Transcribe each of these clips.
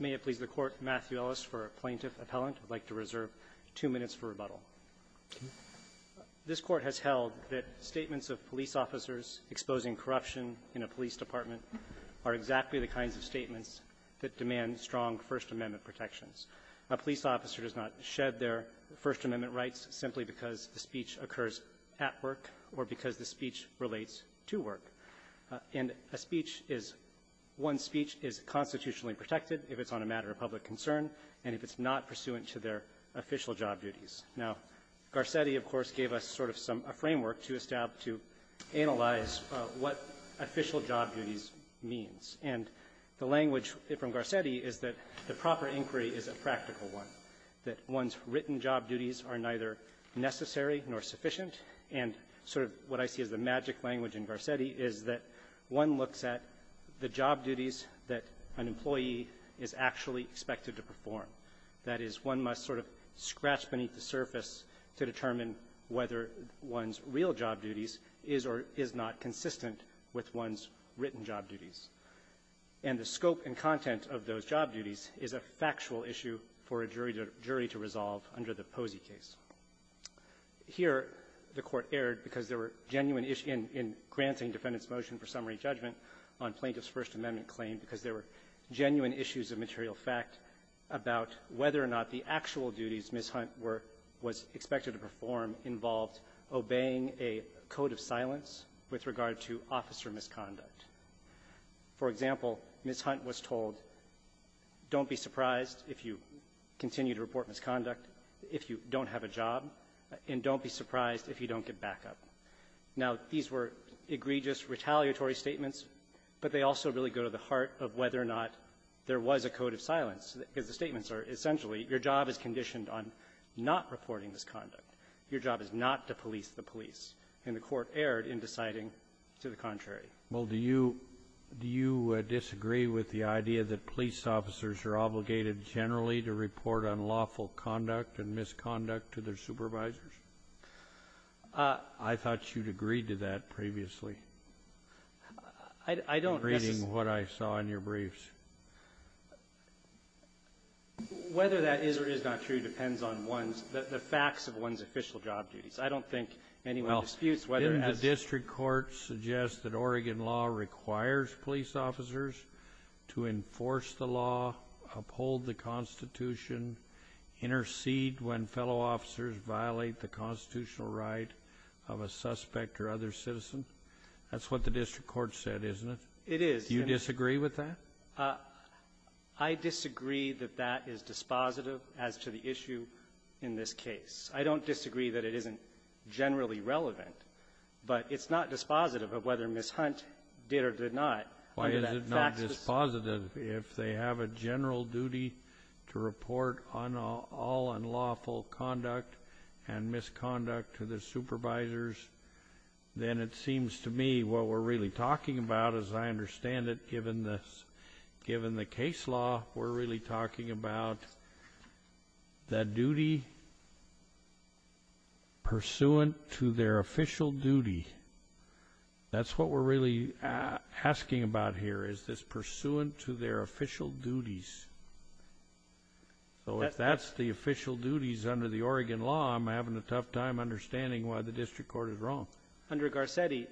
May it please the Court, Matthew Ellis for Plaintiff Appellant. I'd like to reserve two minutes for rebuttal. This Court has held that statements of police officers exposing corruption in a police department are exactly the kinds of statements that demand strong First Amendment protections. A police officer does not shed their First Amendment rights simply because the speech occurs at work or because the speech relates to work. And a speech is, one's speech is constitutionally protected if it's on a matter of public concern and if it's not pursuant to their official job duties. Now, Garcetti, of course, gave us sort of some, a framework to establish, to analyze what official job duties means. And the language from Garcetti is that the proper inquiry is a practical one, that one's written job duties are neither necessary nor sufficient. And sort of what I see as the magic language in Garcetti is that one looks at the job duties that an employee is actually expected to perform. That is, one must sort of scratch beneath the surface to determine whether one's real job duties is or is not consistent with one's written job duties. And the scope and content of those job duties is a factual issue for a jury to resolve under the Posey case. Here, the Court erred because there were genuine issues in granting defendant's motion for summary judgment on plaintiff's First Amendment claim because there were genuine issues of material fact about whether or not the actual duties Ms. Hunt was expected to perform involved obeying a code of silence with regard to officer misconduct. For example, Ms. Hunt was told, don't be surprised if you continue to report misconduct if you don't have a job, and don't be surprised if you don't get backup. Now, these were egregious, retaliatory statements, but they also really go to the heart of whether or not there was a code of silence, because the statements are essentially, your job is conditioned on not reporting misconduct. Your job is not to police the police. And the Court erred in deciding to the contrary. Kennedy. Well, do you do you disagree with the idea that police officers are obligated generally to report unlawful conduct and misconduct to their supervisors? I thought you'd agreed to that previously. I don't. In reading what I saw in your briefs. Whether that is or is not true depends on one's, the facts of one's official job duties. I don't think anyone disputes whether or not. Well, didn't the district court suggest that Oregon law requires police officers to enforce the law, uphold the Constitution, intercede when fellow officers violate the constitutional right of a suspect or other citizen? That's what the district court said, isn't it? It is. Do you disagree with that? I disagree that that is dispositive as to the issue in this case. I don't disagree that it isn't generally relevant, but it's not dispositive of whether Ms. Hunt did or did not. Why is it not dispositive if they have a general duty to report on all unlawful conduct and misconduct to the supervisors? Then it seems to me what we're really talking about, as I understand it, given this, given the case law, we're really talking about the duty pursuant to their official duty. That's what we're really asking about here, is this pursuant to their official duties. So if that's the official duties under the Oregon law, I'm having a tough time understanding why the district court is wrong. Under Garcetti,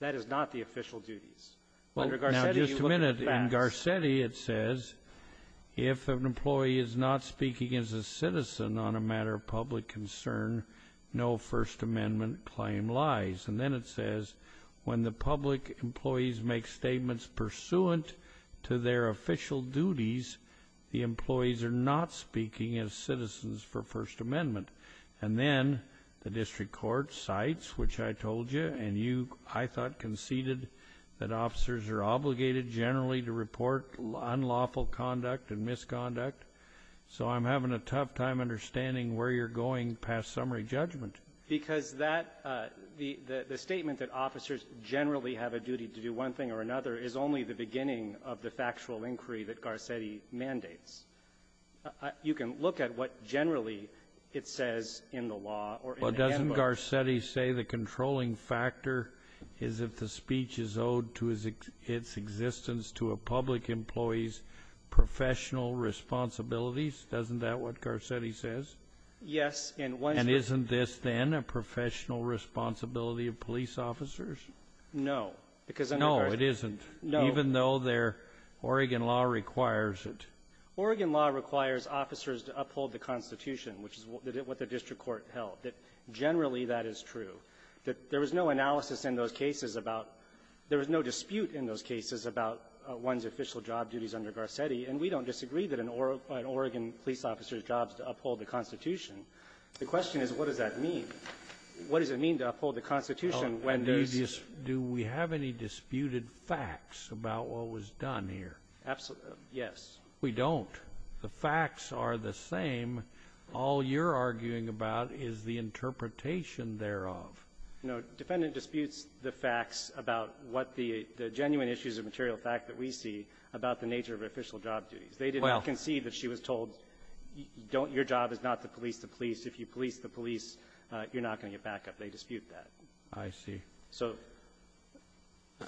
that is not the official duties. Under Garcetti, you look at the facts. Well, now, just a minute. In Garcetti, it says if an employee is not speaking as a citizen on a matter of public concern, no First Amendment claim lies. And then it says when the public employees make statements pursuant to their official duties, the employees are not speaking as citizens for First Amendment. And then the district court cites, which I told you and you, I thought, conceded that officers are obligated generally to report unlawful conduct and misconduct. So I'm having a tough time understanding where you're going past summary judgment. Because that the statement that officers generally have a duty to do one thing or another is only the beginning of the factual inquiry that Garcetti mandates. You can look at what generally it says in the law or in the handbook. Well, doesn't Garcetti say the controlling factor is if the speech is owed to its existence to a public employee's professional responsibilities? Isn't that what Garcetti says? Yes. And isn't this, then, a professional responsibility of police officers? No. No, it isn't, even though their Oregon law requires it. Oregon law requires officers to uphold the Constitution, which is what the district court held, that generally that is true, that there was no analysis in those cases about, there was no dispute in those cases about one's official job duties under Garcetti. And we don't disagree that an Oregon police officer's job is to uphold the Constitution. The question is, what does that mean? What does it mean to uphold the Constitution when there's this? Do we have any disputed facts about what was done here? Absolutely. Yes. We don't. The facts are the same. All you're arguing about is the interpretation thereof. No. Defendant disputes the facts about what the genuine issues of material fact that we see about the nature of official job duties. They did not concede that she was told, don't your job is not to police the police. If you police the police, you're not going to get back up. They dispute that. I see. So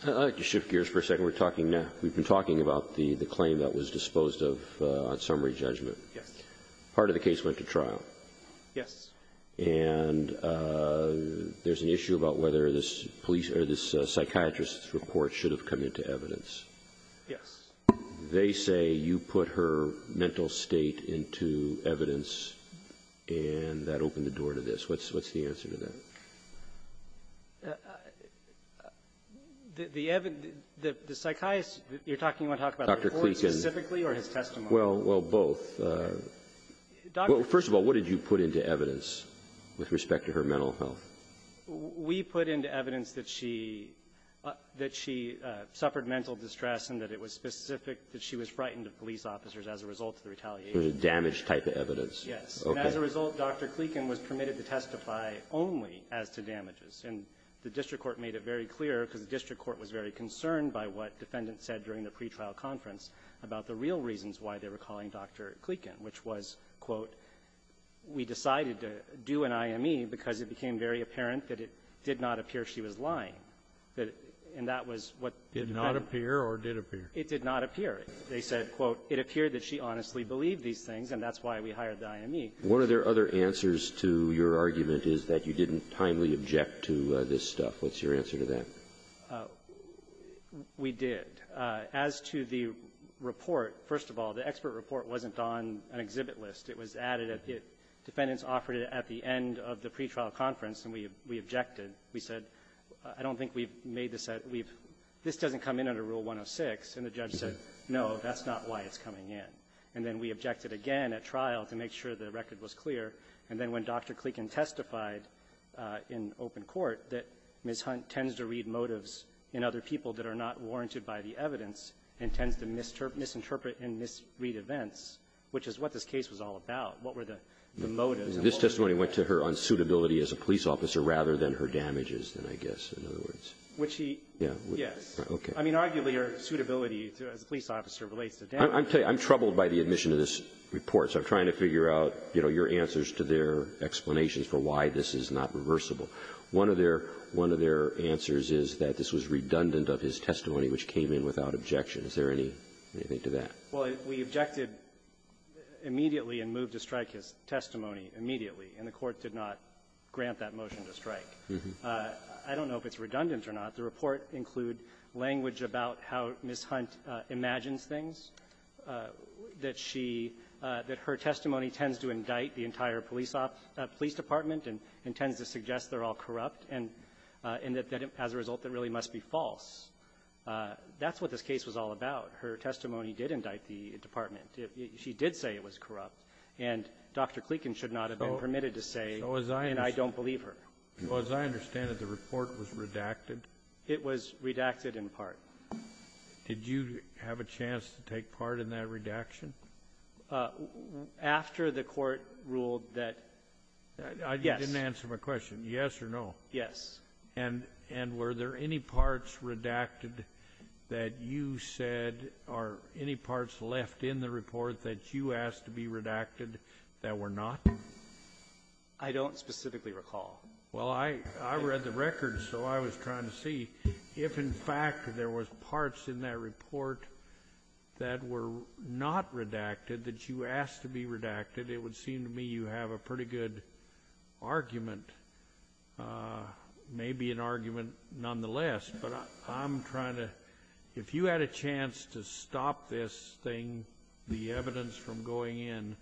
---- I'd like to shift gears for a second. We're talking now. We've been talking about the claim that was disposed of on summary judgment. Yes. Part of the case went to trial. Yes. And there's an issue about whether this police or this psychiatrist's report should have come into evidence. Yes. They say you put her mental state into evidence, and that opened the door to this. What's the answer to that? The psychiatrist you're talking about, you want to talk about the report specifically or his testimony? Well, both. First of all, what did you put into evidence with respect to her mental health? We put into evidence that she ---- that she suffered mental distress and that it was specific that she was frightened of police officers as a result of the retaliation. So it was a damage type of evidence. Yes. Okay. And as a result, Dr. Kleken was permitted to testify only as to damages. And the district court made it very clear, because the district court was very concerned by what defendants said during the pretrial conference about the real reasons why they were calling Dr. Kleken, which was, quote, we decided to do an IME because it became very apparent that it did not appear she was lying, that ---- and that was what ---- Did not appear or did appear? It did not appear. They said, quote, it appeared that she honestly believed these things, and that's why we hired the IME. One of their other answers to your argument is that you didn't timely object to this stuff. What's your answer to that? We did. As to the report, first of all, the expert report wasn't on an exhibit list. It was added at the ---- defendants offered it at the end of the pretrial conference, and we objected. We said, I don't think we've made this at ---- we've ---- this doesn't come in under Rule 106. And the judge said, no, that's not why it's coming in. And then we objected again at trial to make sure the record was clear. And then when Dr. Kleken testified in open court that Ms. Hunt tends to read motives in other people that are not warranted by the evidence and tends to misinterpret and misread events, which is what this case was all about, what were the motives and what were the ---- This testimony went to her on suitability as a police officer rather than her damages, I guess, in other words. Would she? Yes. Okay. I mean, arguably, her suitability as a police officer relates to damage. I'm troubled by the admission of this report, so I'm trying to figure out, you know, your answers to their explanations for why this is not reversible. One of their ---- one of their answers is that this was redundant of his testimony, which came in without objection. Is there anything to that? Well, we objected immediately and moved to strike his testimony immediately. And the Court did not grant that motion to strike. I don't know if it's redundant or not. The report include language about how Ms. Hunt imagines things, that she ---- that her testimony tends to indict the entire police department and tends to suggest they're all corrupt, and that as a result, that really must be false. That's what this case was all about. Her testimony did indict the department. She did say it was corrupt. And Dr. Kleekin should not have been permitted to say, and I don't believe her. So as I understand it, the report was redacted? It was redacted in part. Did you have a chance to take part in that redaction? After the Court ruled that, yes. You didn't answer my question. Yes or no? Yes. And were there any parts redacted that you said, or any parts left in the report that you asked to be redacted that were not? I don't specifically recall. Well, I read the records, so I was trying to see if, in fact, there was parts in that that were redacted that you asked to be redacted. It would seem to me you have a pretty good argument, maybe an argument nonetheless. But I'm trying to, if you had a chance to stop this thing, the evidence from going in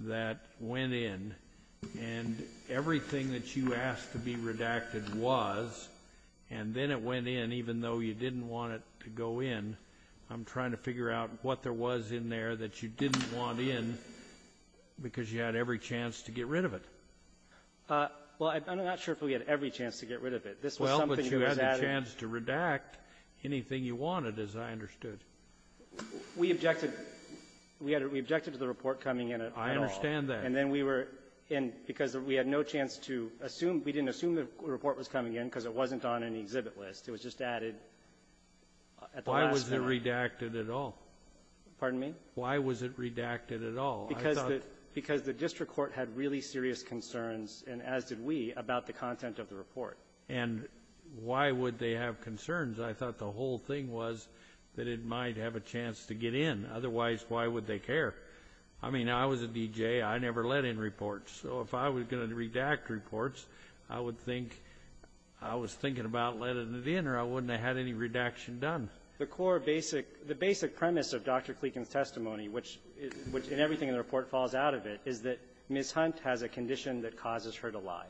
that went in, and everything that you asked to be redacted was, and then it went in even though you didn't want it to go in. I'm trying to figure out what there was in there that you didn't want in because you had every chance to get rid of it. Well, I'm not sure if we had every chance to get rid of it. This was something that was added. Well, but you had the chance to redact anything you wanted, as I understood. We objected. We objected to the report coming in at all. I understand that. And then we were in, because we had no chance to assume. We didn't assume the report was coming in because it wasn't on an exhibit list. It was just added at the last minute. Why was it redacted at all? Pardon me? Why was it redacted at all? Because the district court had really serious concerns, and as did we, about the content of the report. And why would they have concerns? I thought the whole thing was that it might have a chance to get in. Otherwise, why would they care? I mean, I was a DJ. I never let in reports. So if I was going to redact reports, I would think I was thinking about letting it in, or I wouldn't have had any redaction done. The core basic — the basic premise of Dr. Kleekin's testimony, which is — which in everything in the report falls out of it, is that Ms. Hunt has a condition that causes her to lie.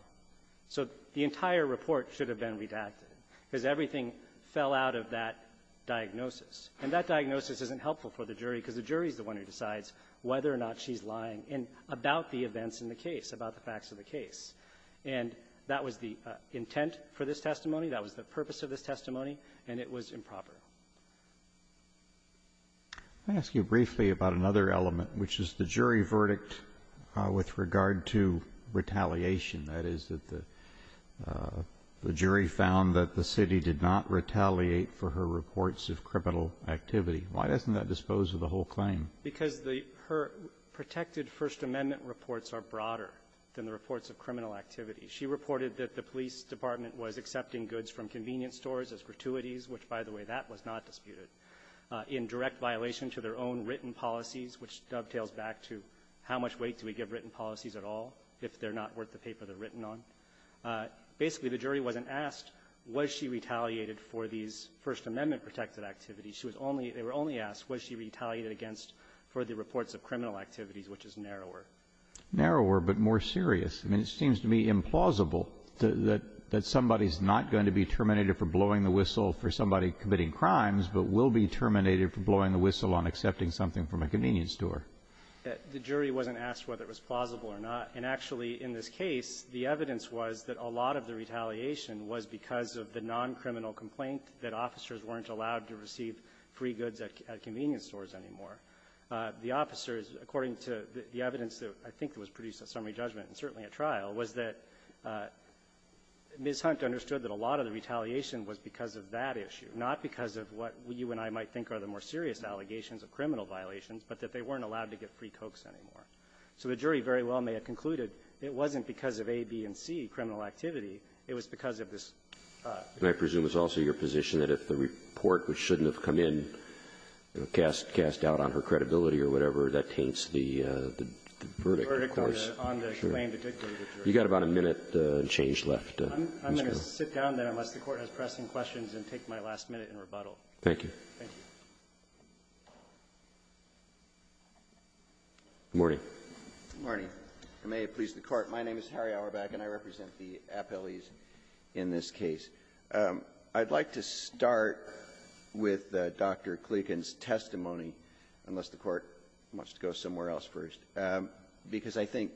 So the entire report should have been redacted, because everything fell out of that diagnosis. And that diagnosis isn't helpful for the jury, because the jury is the one who decides whether or not she's lying, and about the events in the case, about the facts of the case. And that was the intent for this testimony. That was the purpose of this testimony. And it was improper. I'll ask you briefly about another element, which is the jury verdict with regard to retaliation, that is, that the jury found that the city did not retaliate for her reports of criminal activity. Why doesn't that dispose of the whole claim? Because the — her protected First Amendment reports are broader than the reports of criminal activity. She reported that the police department was accepting goods from convenience stores as gratuities, which, by the way, that was not disputed, in direct violation to their own written policies, which dovetails back to how much weight do we give written policies at all if they're not worth the paper they're written on? Basically, the jury wasn't asked, was she retaliated for these First Amendment protected activities? She was only — they were only asked, was she retaliated against for the reports of criminal activities, which is narrower. Narrower, but more serious. I mean, it seems to me implausible that somebody's not going to be terminated for blowing the whistle for somebody committing crimes, but will be terminated for blowing the whistle on accepting something from a convenience store. The jury wasn't asked whether it was plausible or not. And actually, in this case, the evidence was that a lot of the retaliation was because of the noncriminal complaint that officers weren't allowed to receive free goods at convenience stores anymore. The officers, according to the evidence that I think was produced at summary judgment and certainly at trial, was that Ms. Hunt understood that a lot of the retaliation was because of that issue, not because of what you and I might think are the more serious allegations of criminal violations, but that they weren't allowed to get free cokes anymore. So the jury very well may have concluded it wasn't because of A, B, and C, criminal activity. It was because of this — I mean, cast doubt on her credibility or whatever, that taints the verdict. Verdict on the claim to dignity of the jury. You've got about a minute and change left. I'm going to sit down then, unless the Court has pressing questions, and take my last minute in rebuttal. Thank you. Thank you. Good morning. Good morning. May it please the Court. My name is Harry Auerbach, and I represent the appellees in this case. I'd like to start with Dr. Klieken's testimony, unless the Court wants to go somewhere else first, because I think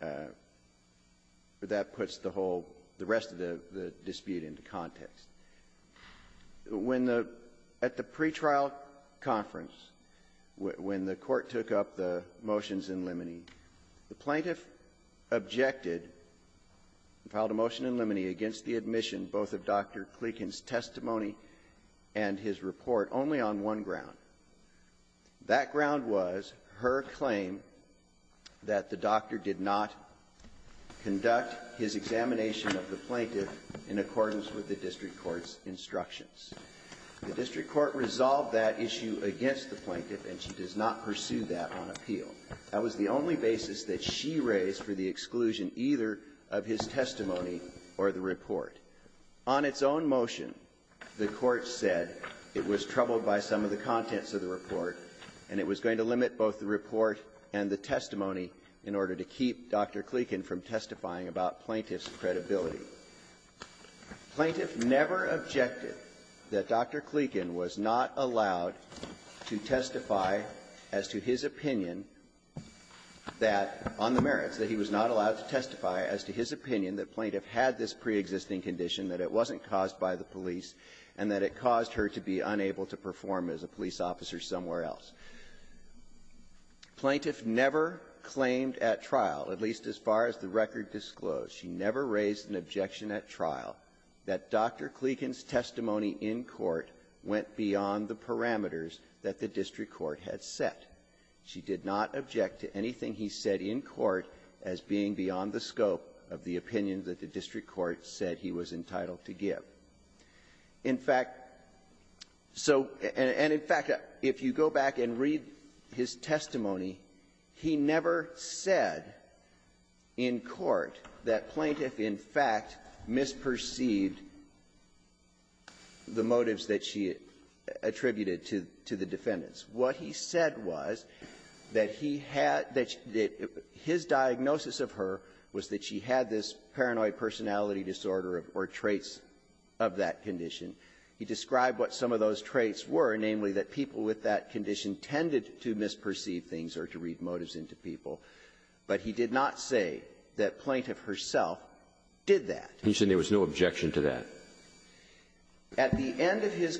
that puts the whole — the rest of the dispute into context. When the — at the pretrial conference, when the Court took up the motions in limine, the plaintiff objected and filed a motion in limine against the admission both of Dr. Klieken's testimony and his report only on one ground. That ground was her claim that the doctor did not conduct his examination of the plaintiff in accordance with the district court's instructions. The district court resolved that issue against the plaintiff, and she does not pursue that on appeal. That was the only basis that she raised for the exclusion either of his testimony or the report. On its own motion, the Court said it was troubled by some of the contents of the report, and it was going to limit both the report and the testimony in order to keep Dr. Klieken from testifying about plaintiff's credibility. Plaintiff never objected that Dr. Klieken was not allowed to testify as to his opinion that, on the merits, that he was not allowed to testify as to his opinion that plaintiff had this preexisting condition, that it wasn't caused by the police, and that it caused her to be unable to perform as a police officer somewhere else. Plaintiff never claimed at trial, at least as far as the record disclosed, she never raised an objection at trial that Dr. Klieken's testimony in court went beyond the parameters that the district court had set. She did not object to anything he said in court as being beyond the scope of the opinion that the district court said he was entitled to give. In fact, so and in fact, if you go back and read his testimony, he never said in court that plaintiff, in fact, misperceived the motives that she attributed to the defendants. What he said was that he had that his diagnosis of her was that she had this paranoid personality disorder or traits of that condition. He described what some of those traits were, namely that people with that condition tended to misperceive things or to read motives into people, but he did not say that plaintiff herself did that. Roberts. He said there was no objection to that. At the end of his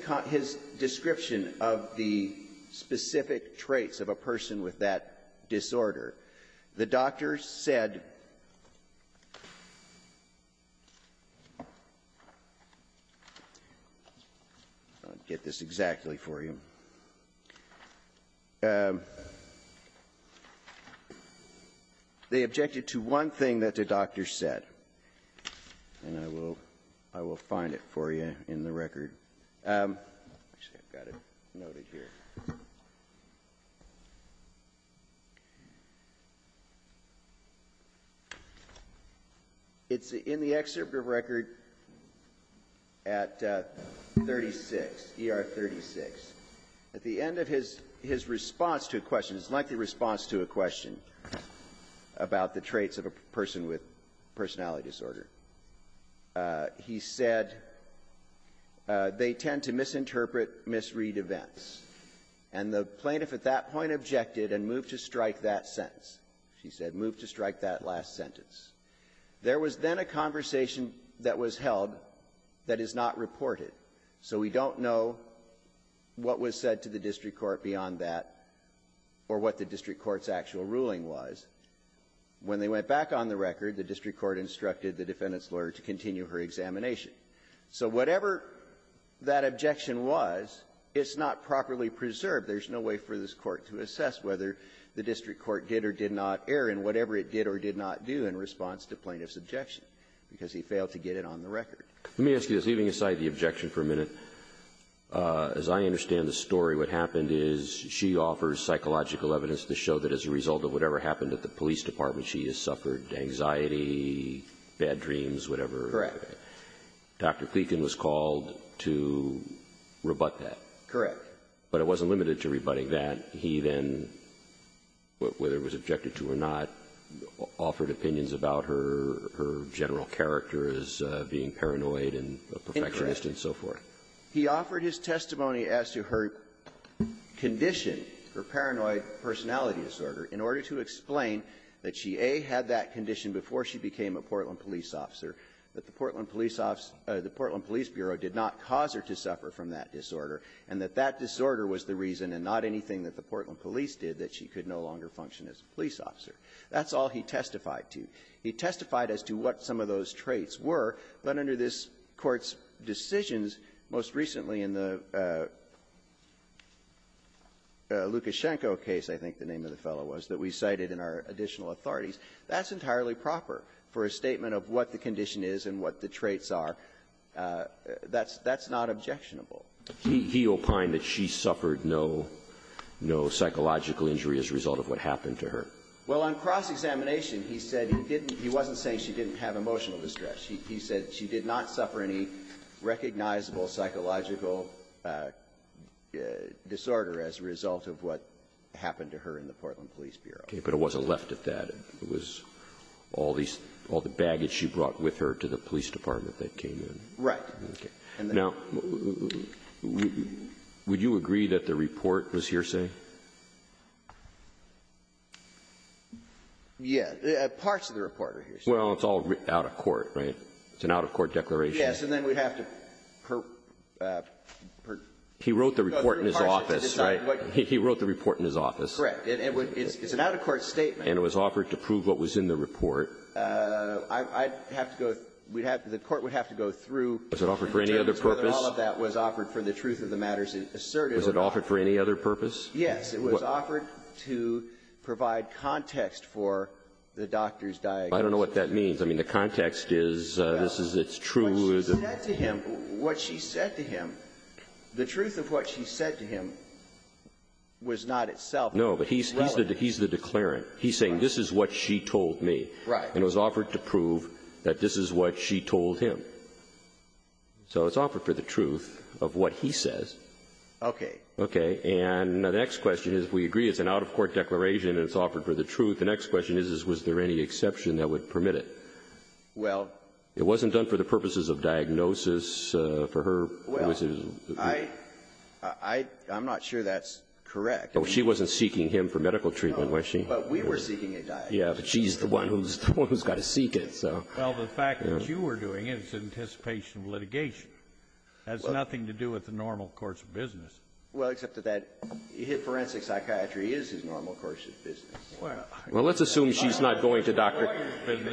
description of the specific traits of a person with that disorder, the doctor said, I'll get this exactly for you. They objected to one thing that the doctor said, and I will find it for you in the record. Actually, I've got it noted here. It's in the excerpt of record at 36, ER 36. At the end of his response to a question, his lengthy response to a question about the traits of a person with personality disorder, he said they tend to misinterpret, misread events. And the plaintiff at that point objected and moved to strike that sentence. She said, move to strike that last sentence. There was then a conversation that was held that is not reported. So we don't know what was said to the district court beyond that or what the district court's actual ruling was. When they went back on the record, the district court instructed the defendant's lawyer to continue her examination. So whatever that objection was, it's not properly preserved. There's no way for this Court to assess whether the district court did or did not err in whatever it did or did not do in response to plaintiff's objection, because he failed to get it on the record. Let me ask you this, leaving aside the objection for a minute. As I understand the story, what happened is she offers psychological evidence to show that as a result of whatever happened at the police department, she has suffered anxiety, bad dreams, whatever. Correct. Dr. Kleken was called to rebut that. Correct. But it wasn't limited to rebutting that. He then, whether it was objected to or not, offered opinions about her general character as being paranoid and a perfectionist and so forth. Incorrect. He offered his testimony as to her condition, her paranoid personality disorder, in order to explain that she, A, had that condition before she became a Portland police officer, that the Portland Police Office or the Portland Police Bureau did not cause her to suffer from that disorder, and that that disorder was the reason and not anything that the Portland police did that she could no longer function as a police officer. That's all he testified to. He testified as to what some of those traits were, but under this Court's decisions, most recently in the Lukashenko case, I think the name of the fellow was, that we cited in our additional authorities, that's entirely proper for a statement of what the condition is and what the traits are. That's not objectionable. He opined that she suffered no psychological injury as a result of what happened to her. Well, on cross-examination, he said he didn't he wasn't saying she didn't have emotional distress. He said she did not suffer any recognizable psychological disorder as a result of what happened to her in the Portland Police Bureau. Okay. But it wasn't left at that. It was all these all the baggage she brought with her to the police department that came in. Right. Okay. Now, would you agree that the report was hearsay? Yes. Parts of the report are hearsay. Well, it's all out of court, right? It's an out-of-court declaration. Yes. And then we'd have to per per He wrote the report in his office, right? He wrote the report in his office. Correct. It's an out-of-court statement. And it was offered to prove what was in the report. I'd have to go we'd have the court would have to go through Was it offered for any other purpose? All of that was offered for the truth of the matters asserted. Was it offered for any other purpose? Yes. It was offered to provide context for the doctor's diagnosis. I don't know what that means. I mean, the context is this is it's true. What she said to him, what she said to him, the truth of what she said to him was not itself. No. But he's he's the he's the declarant. He's saying this is what she told me. Right. And it was offered to prove that this is what she told him. So it's offered for the truth of what he says. Okay. Okay. And the next question is, we agree it's an out-of-court declaration and it's offered for the truth. The next question is, is was there any exception that would permit it? Well. It wasn't done for the purposes of diagnosis for her. Well, I I I'm not sure that's correct. She wasn't seeking him for medical treatment, was she? But we were seeking a diagnosis. Yeah. But she's the one who's the one who's got to seek it. So. Well, the fact that you were doing it, it's in anticipation of litigation. That has nothing to do with the normal course of business. Well, except that that forensic psychiatry is his normal course of business. Well, let's assume she's not going to Dr.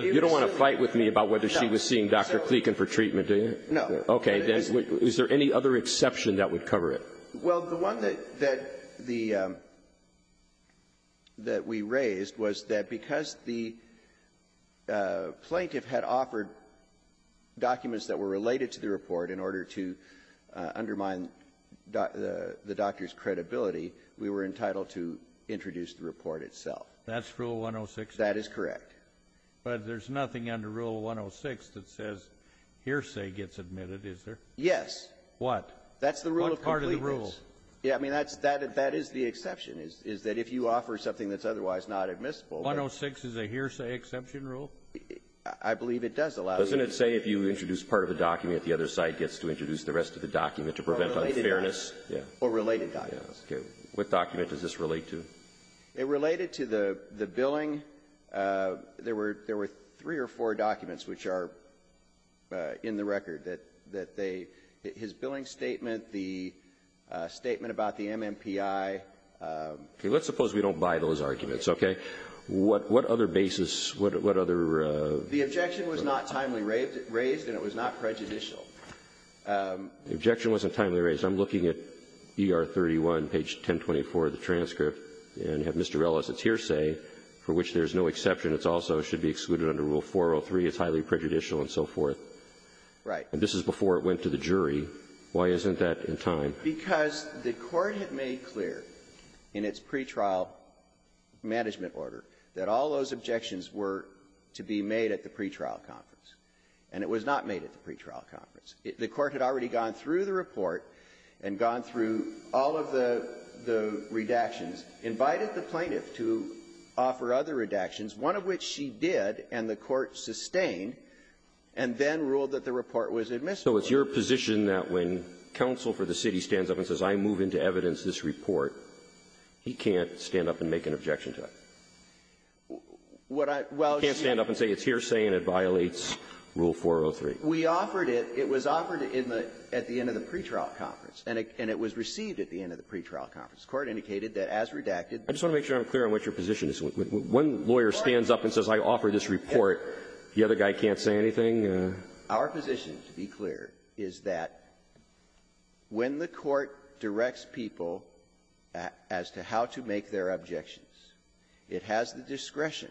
You don't want to fight with me about whether she was seeing Dr. Kleken for treatment, do you? No. Okay. Then is there any other exception that would cover it? Well, the one that that the that we raised was that because the plaintiff had offered documents that were related to the report in order to undermine the doctor's credibility, we were entitled to introduce the report itself. That's Rule 106? That is correct. But there's nothing under Rule 106 that says hearsay gets admitted, is there? Yes. What? That's the rule of completeness. That's the rule. Yeah. I mean, that's that that is the exception, is that if you offer something that's otherwise not admissible. 106 is a hearsay exception rule? I believe it does allow you to do that. Doesn't it say if you introduce part of a document, the other side gets to introduce the rest of the document to prevent unfairness? Or related documents. Yeah. Or related documents. Okay. What document does this relate to? It related to the the billing. There were there were three or four documents which are in the record that that they his billing statement, the statement about the MMPI. Okay. Let's suppose we don't buy those arguments. Okay. What what other basis what what other the objection was not timely raised and it was not prejudicial. The objection wasn't timely raised. I'm looking at ER 31, page 1024 of the transcript, and have Mr. Rella's hearsay for which there's no exception, it's also should be excluded under Rule 403, it's highly prejudicial and so forth. Right. And this is before it went to the jury. Why isn't that in time? Because the Court had made clear in its pretrial management order that all those objections were to be made at the pretrial conference. And it was not made at the pretrial conference. The Court had already gone through the report and gone through all of the the redactions, invited the plaintiff to offer other redactions, one of which she did and the Court sustained, and then ruled that the report was admissible. So it's your position that when counsel for the city stands up and says I move into evidence this report, he can't stand up and make an objection to it? What I can't stand up and say it's hearsay and it violates Rule 403. We offered it. It was offered in the at the end of the pretrial conference. And it was received at the end of the pretrial conference. The Court indicated that as redacted. I just want to make sure I'm clear on what your position is. When a lawyer stands up and says I offer this report, the other guy can't say anything? Our position, to be clear, is that when the Court directs people as to how to make their objections, it has the discretion.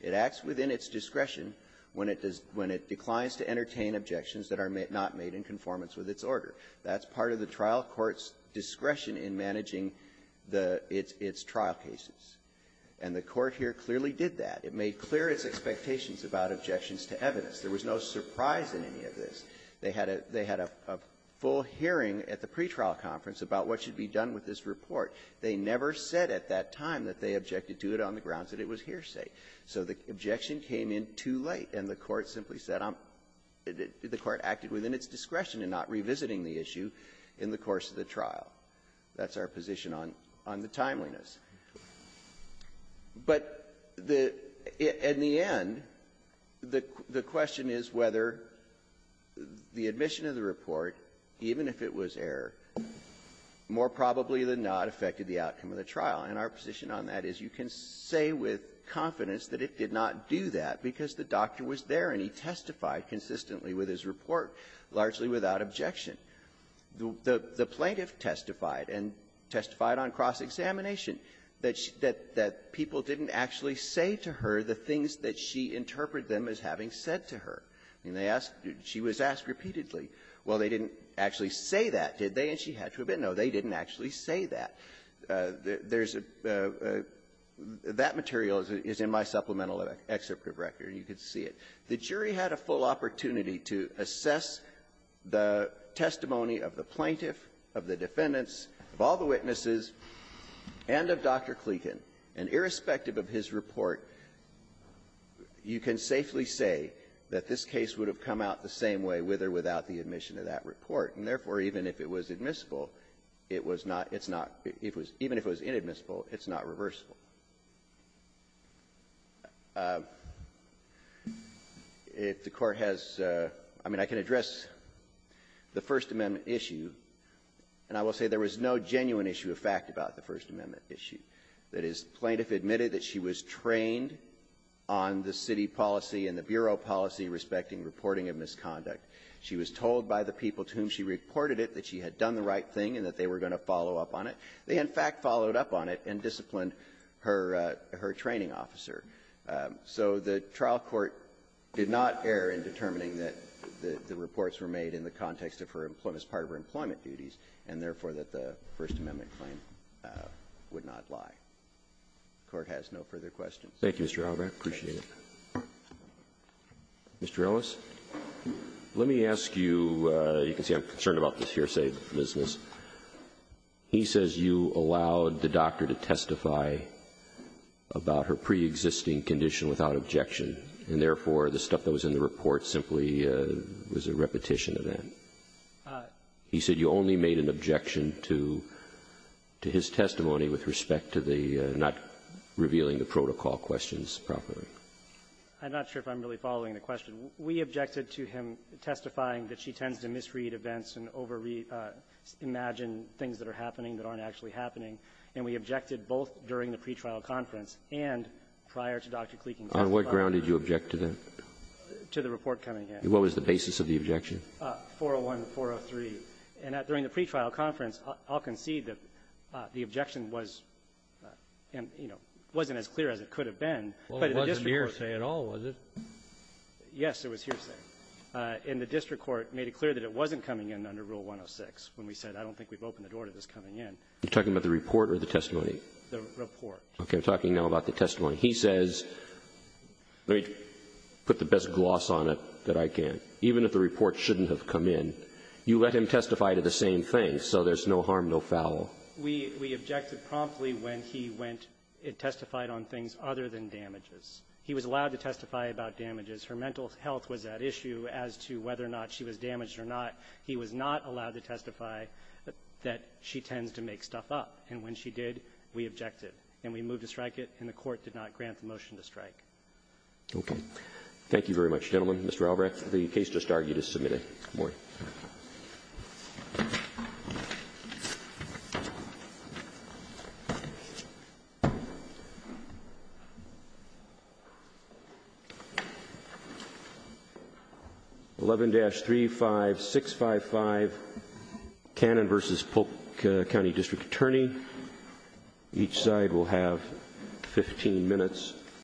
It acts within its discretion when it declines to entertain objections that are not made in conformance with its order. That's part of the trial court's discretion in managing the its trial cases. And the Court here clearly did that. It made clear its expectations about objections to evidence. There was no surprise in any of this. They had a full hearing at the pretrial conference about what should be done with this report. They never said at that time that they objected to it on the grounds that it was hearsay. So the objection came in too late, and the Court simply said I'm the Court acted within its discretion in not revisiting the issue in the course of the trial. That's our position on the timeliness. But the end, the question is whether the admission of the report, even if it was error, more probably than not affected the outcome of the trial. And our position on that is you can say with confidence that it did not do that because the doctor was there and he testified consistently with his report, largely without objection. The plaintiff testified and testified on cross-examination that people didn't actually say to her the things that she interpreted them as having said to her. I mean, they asked, she was asked repeatedly. Well, they didn't actually say that, did they? And she had to admit, no, they didn't actually say that. There's a — that material is in my supplemental excerpt of record. You can see it. The jury had a full opportunity to assess the testimony of the plaintiff, of the defendants, of all the witnesses, and of Dr. Kleken. And irrespective of his report, you can safely say that this case would have come out the same way with or without the admission of that report. And therefore, even if it was admissible, it was not — it's not — it was — even if it was inadmissible, it's not reversible. If the Court has — I mean, I can address the First Amendment issue, and I will say there was no genuine issue of fact about the First Amendment issue. That is, the plaintiff admitted that she was trained on the city policy and the bureau policy respecting reporting of misconduct. She was told by the people to whom she reported it that she had done the right thing and that they were going to follow up on it. They, in fact, followed up on it and disciplined her — her training officer. So the trial court did not err in determining that the reports were made in the context of her — as part of her employment duties, and therefore, that the First Amendment claim would not lie. The Court has no further questions. Roberts. Thank you, Mr. Albrecht. I appreciate it. Mr. Ellis. Let me ask you — you can see I'm concerned about this here, say, business. He says you allowed the doctor to testify about her preexisting condition without objection, and therefore, the stuff that was in the report simply was a repetition of that. He said you only made an objection to — to his testimony with respect to the not revealing the protocol questions properly. I'm not sure if I'm really following the question. We objected to him testifying that she tends to misread events and over-imagine things that are happening that aren't actually happening, and we objected both during the pretrial conference and prior to Dr. Kleeking's testimony. On what ground did you object to that? To the report coming in. And what was the basis of the objection? 401 and 403. And during the pretrial conference, I'll concede that the objection was, you know, wasn't as clear as it could have been, but the district court said — Well, it wasn't here, say, at all, was it? Yes, it was here, say. And the district court made it clear that it wasn't coming in under Rule 106 when we said, I don't think we've opened the door to this coming in. You're talking about the report or the testimony? The report. Okay. I'm talking now about the testimony. He says, let me put the best gloss on it that I can. Even if the report shouldn't have come in, you let him testify to the same thing, so there's no harm, no foul. We — we objected promptly when he went and testified on things other than damages. He was allowed to testify about damages. Her mental health was at issue as to whether or not she was damaged or not. He was not allowed to testify that she tends to make stuff up. And when she did, we objected. And we moved to strike it, and the Court did not grant the motion to strike. Okay. Thank you very much, gentlemen. Good morning. 11-35655, Cannon v. Polk County District Attorney. Each side will have 15 minutes.